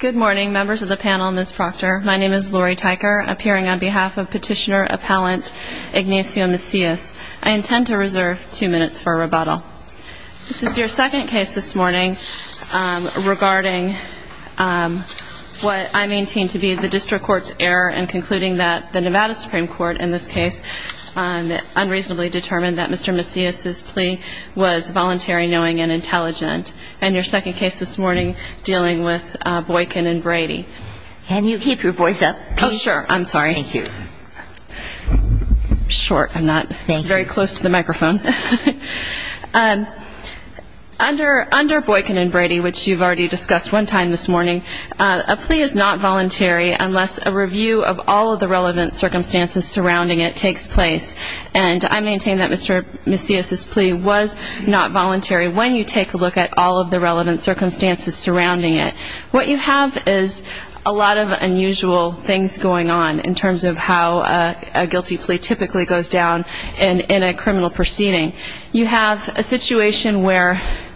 Good morning members of the panel and Ms. Proctor. My name is Lori Tyker appearing on behalf of petitioner appellant Ignacio Macias. I intend to reserve two minutes for a rebuttal. This is your second case this morning regarding what I maintain to be the district court's error in concluding that the Nevada Supreme Court in this case unreasonably determined that Mr. Macias' plea was voluntary, knowing, and intelligent. And your second case this morning dealing with Boykin and Brady. Can you keep your voice up? Oh, sure. I'm sorry. Thank you. Short. I'm not very close to the microphone. Under Boykin and Brady, which you've already discussed one time this morning, a plea is not voluntary unless a review of all of the relevant circumstances surrounding it takes place. And I maintain that Mr. Macias' plea was not voluntary when you take a look at all of the relevant circumstances surrounding it. What you have is a lot of unusual things going on in terms of how a guilty plea typically goes down in a criminal proceeding. You have a situation where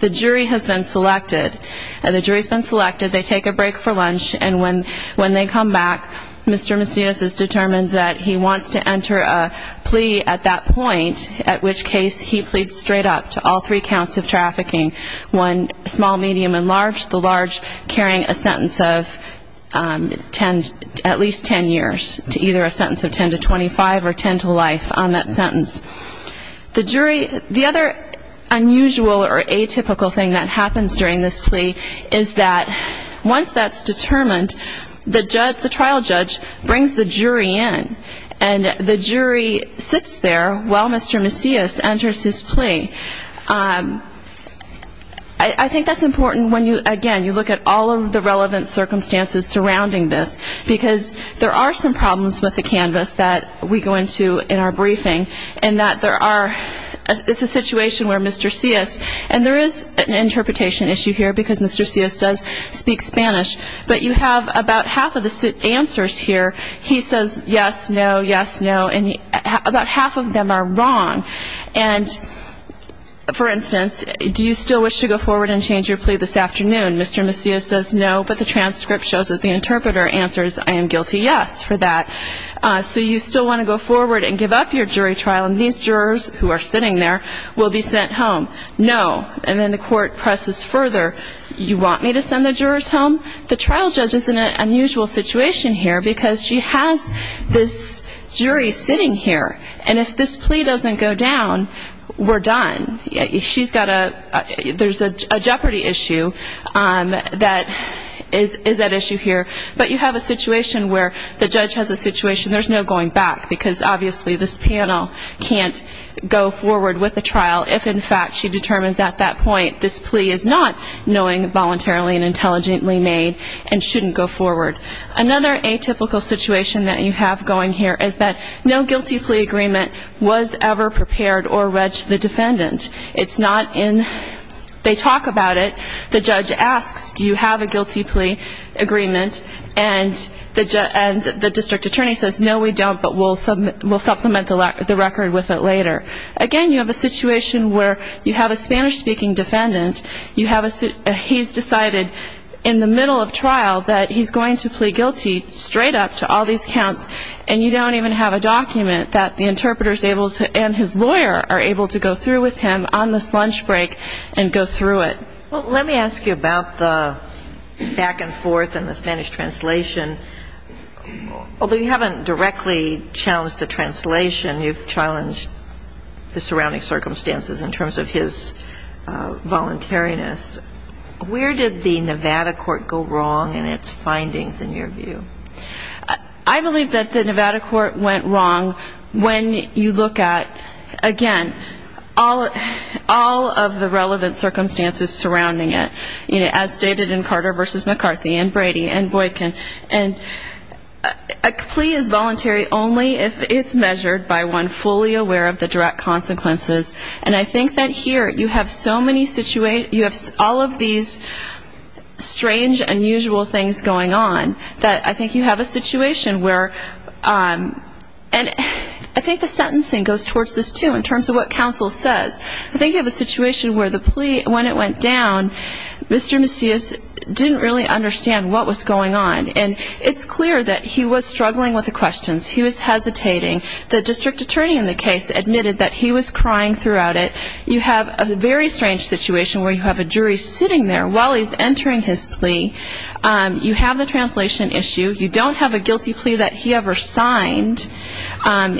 the jury has been selected, and the jury's been selected. They take a break for lunch, and when when they come back, Mr. Macias is determined that he wants to enter a plea at that point, at which case he pleads straight up to all three counts of the large, carrying a sentence of at least 10 years, to either a sentence of 10 to 25 or 10 to life on that sentence. The jury, the other unusual or atypical thing that happens during this plea is that once that's determined, the trial judge brings the jury in, and the jury sits there while Mr. Macias enters his plea. I think that's important when you, again, you look at all of the relevant circumstances surrounding this, because there are some problems with the canvas that we go into in our briefing, and that there are, it's a situation where Mr. Macias, and there is an interpretation issue here because Mr. Macias does speak Spanish, but you have about half of the answers here, he says yes, no, yes, no, and about half of them are wrong. And, for instance, do you still wish to go forward and change your plea this afternoon? Mr. Macias says no, but the transcript shows that the interpreter answers, I am guilty, yes, for that. So you still want to go forward and give up your jury trial, and these jurors who are sitting there will be sent home. No, and then the court presses further, you want me to send the jurors home? The trial judge is in an unusual situation here because she has this jury sitting here, and if this plea doesn't go down, we're done. She's got a, there's a jeopardy issue that is at issue here, but you have a situation where the judge has a situation, there's no going back, because obviously this panel can't go forward with a trial if, in fact, she determines at that point, this plea is not knowing voluntarily and intelligently made, and shouldn't go forward. Another atypical situation that you have going here is that no guilty plea agreement was ever prepared or read to the defendant. It's not in, they talk about it, the judge asks, do you have a guilty plea agreement, and the district attorney says, no, we don't, but we'll supplement the record with it later. Again, you have a situation where you have a Spanish-speaking defendant, you have a, he's decided in the middle of trial that he's going to plea guilty straight up to all these counts, and you don't even have a document that the interpreter's able to, and his lawyer are able to go through with him on this lunch break and go through it. Well, let me ask you about the back and forth and the Spanish translation. Although you haven't directly challenged the translation, you've challenged the surrounding circumstances in terms of his voluntariness. Where did the Nevada court go wrong in its findings, in your view? I believe that the Nevada court went wrong when you look at, again, all of the relevant circumstances surrounding it, as stated in Carter v. McCarthy and Brady and Boykin. And a plea is voluntary only if it's measured by one fully aware of the direct consequences. And I think that here, you have so many, you have all of these strange, unusual things going on, that I think you have a situation where, and I think the sentencing goes towards this, too, in terms of what counsel says, I think you have a situation where the plea, when it went down, Mr. Macias didn't really understand what was going on. And it's clear that he was struggling with the questions. He was hesitating. The district attorney in the case admitted that he was crying throughout it. You have a very strange situation where you have a jury sitting there while he's entering his plea. You have the translation issue. You don't have a guilty plea that he ever signed.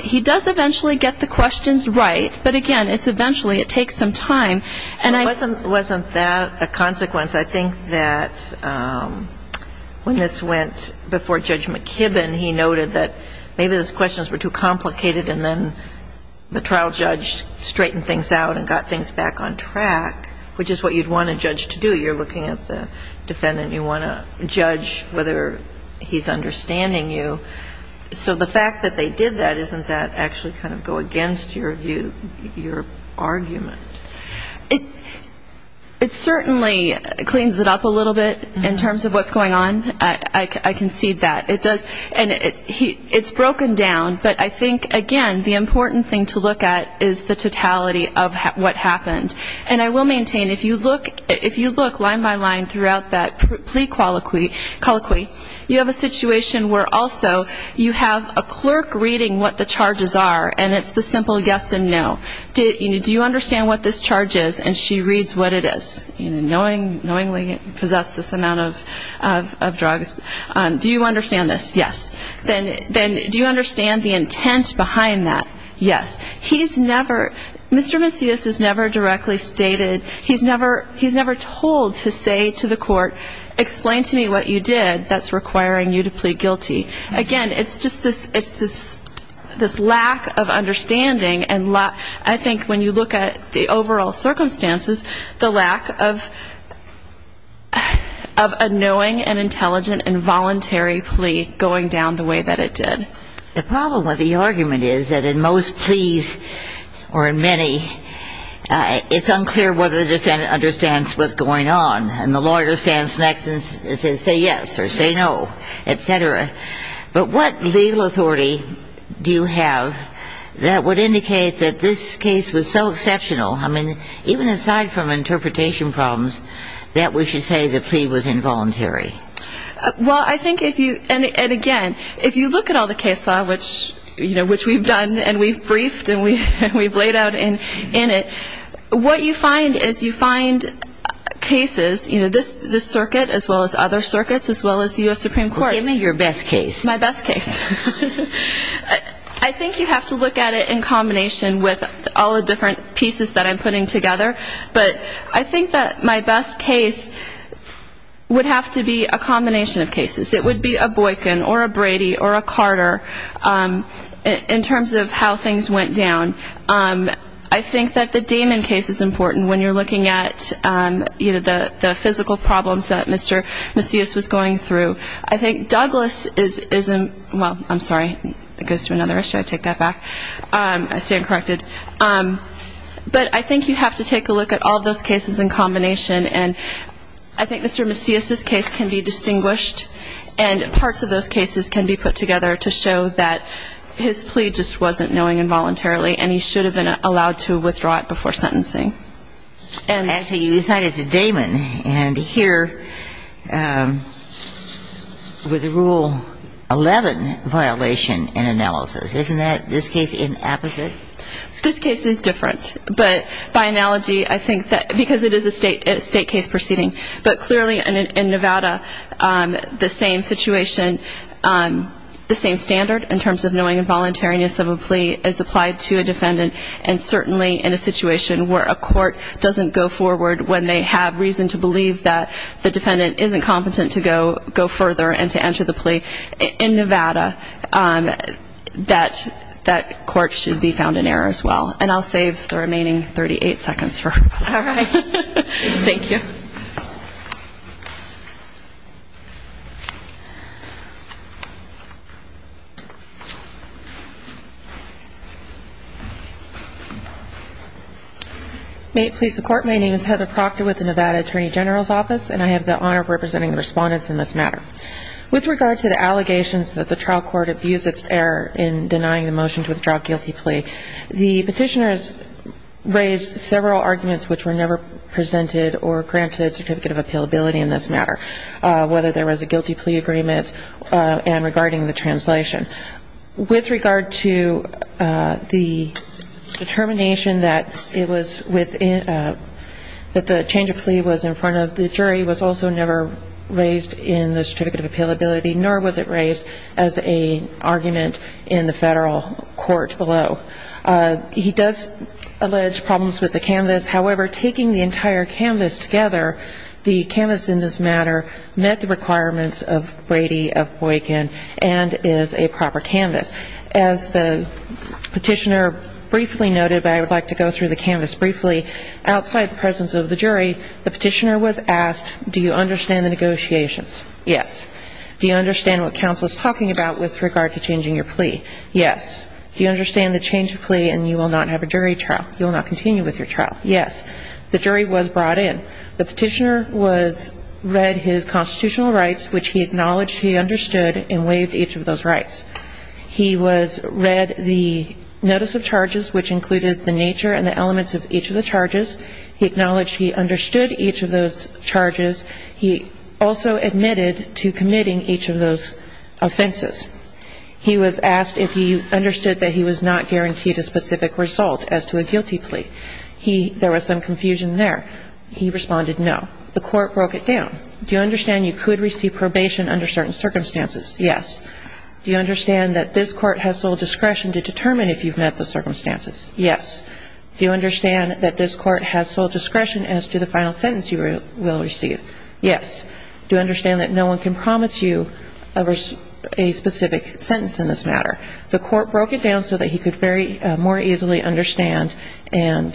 He does eventually get the questions right, but again, it's eventually, it takes some time. And it wasn't that a consequence. I think that when this went before Judge McKibbin, he noted that maybe those questions were too complicated, and then the trial judge straightened things out and got things back on track, which is what you'd want a judge to do. You're looking at the defendant. You want to judge whether he's understanding you. So the fact that they did that, isn't that actually kind of go against your view, your argument? It certainly cleans it up a little bit in terms of what's going on. I concede that. It does. And it's broken down, but I think, again, the important thing to look at is the totality of what happened. And I will maintain, if you look line by line throughout that plea colloquy, you have a situation where also you have a clerk reading what the charges are, and it's the simple yes and no. Do you understand what this charge is? And she reads what it is, you know, knowingly possess this amount of drugs. Do you understand this? Yes. Then do you understand the intent behind that? Yes. He's never, Mr. Macias has never directly stated, he's never told to say to the court, explain to me what you did that's requiring you to plead guilty. Again, it's just this lack of understanding. And I think when you look at the overall circumstances, the lack of a knowing and intelligent and voluntary plea going down the way that it did. The problem with the argument is that in most pleas or in many, it's unclear whether the defendant understands what's going on. And the lawyer stands next and says, say yes or say no, et cetera. But what legal authority do you have that would indicate that this case was so exceptional? I mean, even aside from interpretation problems, that we should say the plea was involuntary. Well, I think if you and again, if you look at all the case law, which, you know, which we've done and we've briefed and we we've laid out in it, what you find is you find cases, you know, this this circuit as well as other circuits, as well as the U.S. Supreme Court. Give me your best case. My best case. I think you have to look at it in combination with all the different pieces that I'm putting together. But I think that my best case would have to be a combination of cases. It would be a Boykin or a Brady or a Carter in terms of how things went down. I think that the Damon case is important when you're looking at, you know, the physical problems that Mr. Macias was going through. I think Douglas is well, I'm sorry, it goes to another issue. I take that back. I stand corrected. But I think you have to take a look at all those cases in combination. And I think Mr. Macias's case can be distinguished. And parts of those cases can be put together to show that his plea just wasn't knowing involuntarily. And he should have been allowed to withdraw it before sentencing. Actually, you decided to Damon and here was a Rule 11 violation in analysis. Isn't that this case in apposite? This case is different. But by analogy, I think that because it is a state case proceeding. But clearly in Nevada, the same situation, the same standard in terms of knowing involuntariness of a plea is applied to a defendant. And certainly in a situation where a court doesn't go forward when they have reason to believe that the defendant isn't competent to go further and to enter the plea in Nevada, that court should be found in error as well. And I'll save the remaining 38 seconds for her. All right. Thank you. May it please the Court, my name is Heather Proctor with the Nevada Attorney General's Office. And I have the honor of representing the respondents in this matter. With regard to the allegations that the trial court abused its error in denying the motion to withdraw a guilty plea, the petitioners raised several arguments which were never presented or granted certificate of appealability in this matter, whether there was a guilty plea agreement and regarding the translation. With regard to the determination that it was within, that the change of plea was in front of the jury, was also never raised in the certificate of appealability, nor was it raised as a argument in the federal court below. He does allege problems with the canvas. However, taking the entire canvas together, the canvas in this matter met the requirements of Brady, of Boykin, and is a proper canvas. As the petitioner briefly noted, but I would like to go through the canvas briefly, outside the presence of the jury, the petitioner was asked, do you understand the negotiations? Yes. Do you understand what counsel is talking about with regard to changing your plea? Yes. Do you understand the change of plea and you will not have a jury trial? You will not continue with your trial? Yes. The jury was brought in. The petitioner was read his constitutional rights, which he acknowledged he understood, and waived each of those rights. He was read the notice of charges, which included the nature and the elements of each of the charges. He acknowledged he understood each of those charges. He also admitted to committing each of those offenses. He was asked if he understood that he was not guaranteed a specific result as to a guilty plea. He, there was some confusion there. He responded no. The court broke it down. Do you understand you could receive probation under certain circumstances? Yes. Do you understand that this court has sole discretion to determine if you've met the circumstances? Yes. Do you understand that this court has sole discretion as to the final sentence you will receive? Yes. Do you understand that no one can promise you a specific sentence in this matter? The court broke it down so that he could very more easily understand and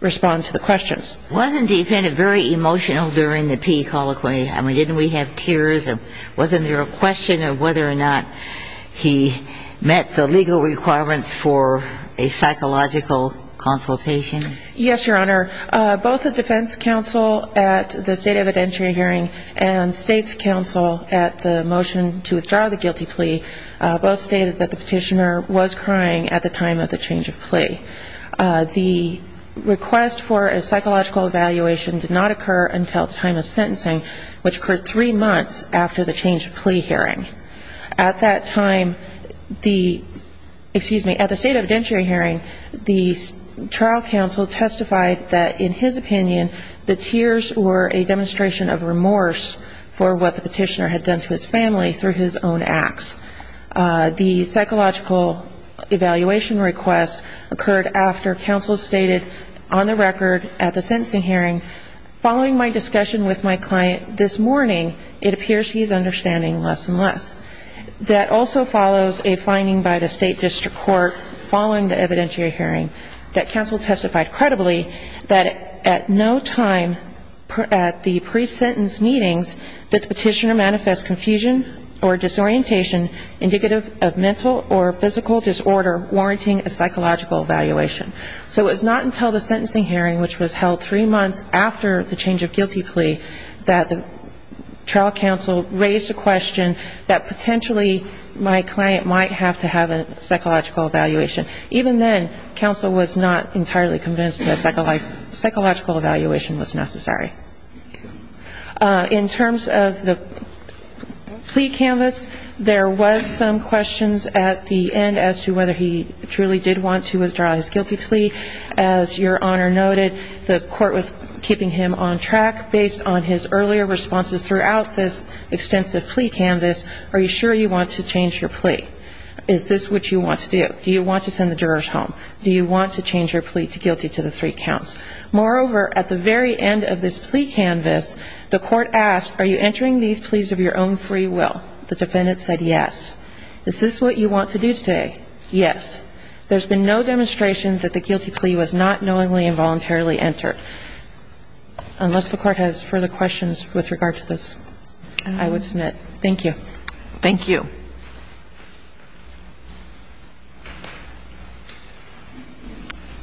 respond to the questions. Wasn't the defendant very emotional during the Peay colloquy? I mean, didn't we have tears? Wasn't there a question of whether or not he met the legal requirements for a psychological consultation? Yes, Your Honor. Both the defense counsel at the state evidentiary hearing and state's counsel at the motion to withdraw the guilty plea, both stated that the petitioner was crying at the time of the change of plea. The request for a psychological evaluation did not occur until the time of sentencing, which occurred three months after the change of plea hearing. At that time, the, excuse me, at the state evidentiary hearing, the trial counsel testified that in his opinion, the tears were a demonstration of remorse for what the petitioner had done to his family through his own acts. The psychological evaluation request occurred after counsel stated on the record at the sentencing hearing, following my discussion with my client this morning, it appears he's understanding less and less. That also follows a finding by the state district court following the evidentiary hearing that counsel testified credibly that at no time at the pre-sentence meetings that the petitioner manifest confusion or disorientation indicative of mental or physical disorder warranting a psychological evaluation. So it was not until the sentencing hearing, which was held three months after the change of guilty plea, that the trial counsel raised a question that potentially my client might have to have a psychological evaluation. Even then, counsel was not entirely convinced that a psychological evaluation was necessary. In terms of the plea canvas, there was some questions at the end as to whether he truly did want to withdraw his guilty plea. As your honor noted, the court was keeping him on track based on his earlier responses throughout this extensive plea canvas. Are you sure you want to change your plea? Is this what you want to do? Do you want to send the jurors home? Do you want to change your plea to guilty to the three counts? Moreover, at the very end of this plea canvas, the court asked, are you entering these pleas of your own free will? The defendant said yes. Is this what you want to do today? Yes. There's been no demonstration that the guilty plea was not knowingly and voluntarily entered. Unless the court has further questions with regard to this, I would submit. Thank you. Thank you.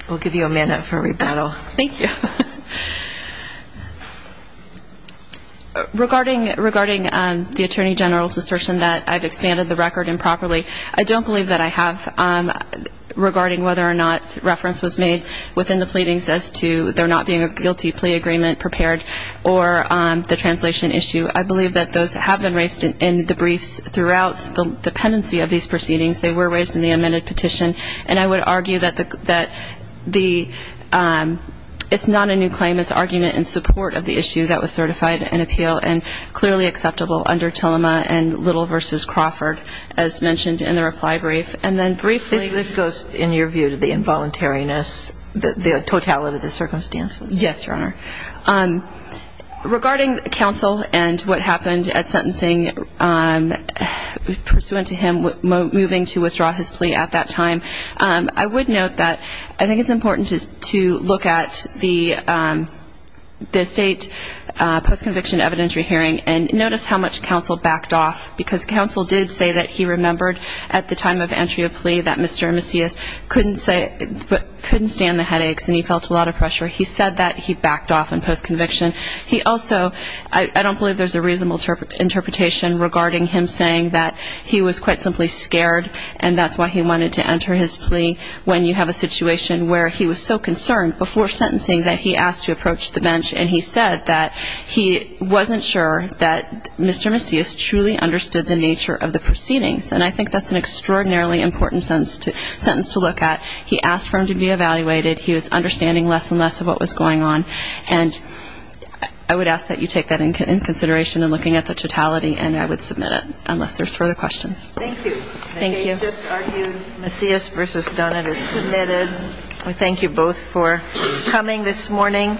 We'll give you a minute for rebuttal. Thank you. Regarding the Attorney General's assertion that I've expanded the record improperly, I don't believe that I have regarding whether or not reference was made within the pleadings as to there not being a guilty plea agreement prepared or the translation issue. I believe that those have been raised in the briefs throughout the pendency of these proceedings. They were raised in the amended petition. And I would argue that it's not a new claim. It's argument in support of the issue that was certified in appeal and clearly acceptable under Tillema and Little v. Crawford, as mentioned in the reply brief. And then briefly. This goes, in your view, to the involuntariness, the totality of the circumstances. Yes, Your Honor. Regarding counsel and what happened at sentencing pursuant to him moving to withdraw his plea at that time, I would note that I think it's important to look at the state post-conviction evidentiary hearing and notice how much counsel backed off because counsel did say that he remembered at the time of entry of plea that Mr. Macias couldn't stand the headaches and he felt a lot of pressure. He said that he backed off in post-conviction. He also, I don't believe there's a reasonable interpretation regarding him saying that he was quite simply scared and that's why he wanted to enter his plea when you have a situation where he was so concerned before sentencing that he asked to approach the bench. And he said that he wasn't sure that Mr. Macias truly understood the nature of the proceedings. And I think that's an extraordinarily important sentence to look at. He asked for him to be evaluated. He was understanding less and less of what was going on. And I would ask that you take that in consideration in looking at the totality and I would submit it unless there's further questions. Thank you. Thank you. They just argued Macias versus Dunn. It is submitted. We thank you both for coming this morning.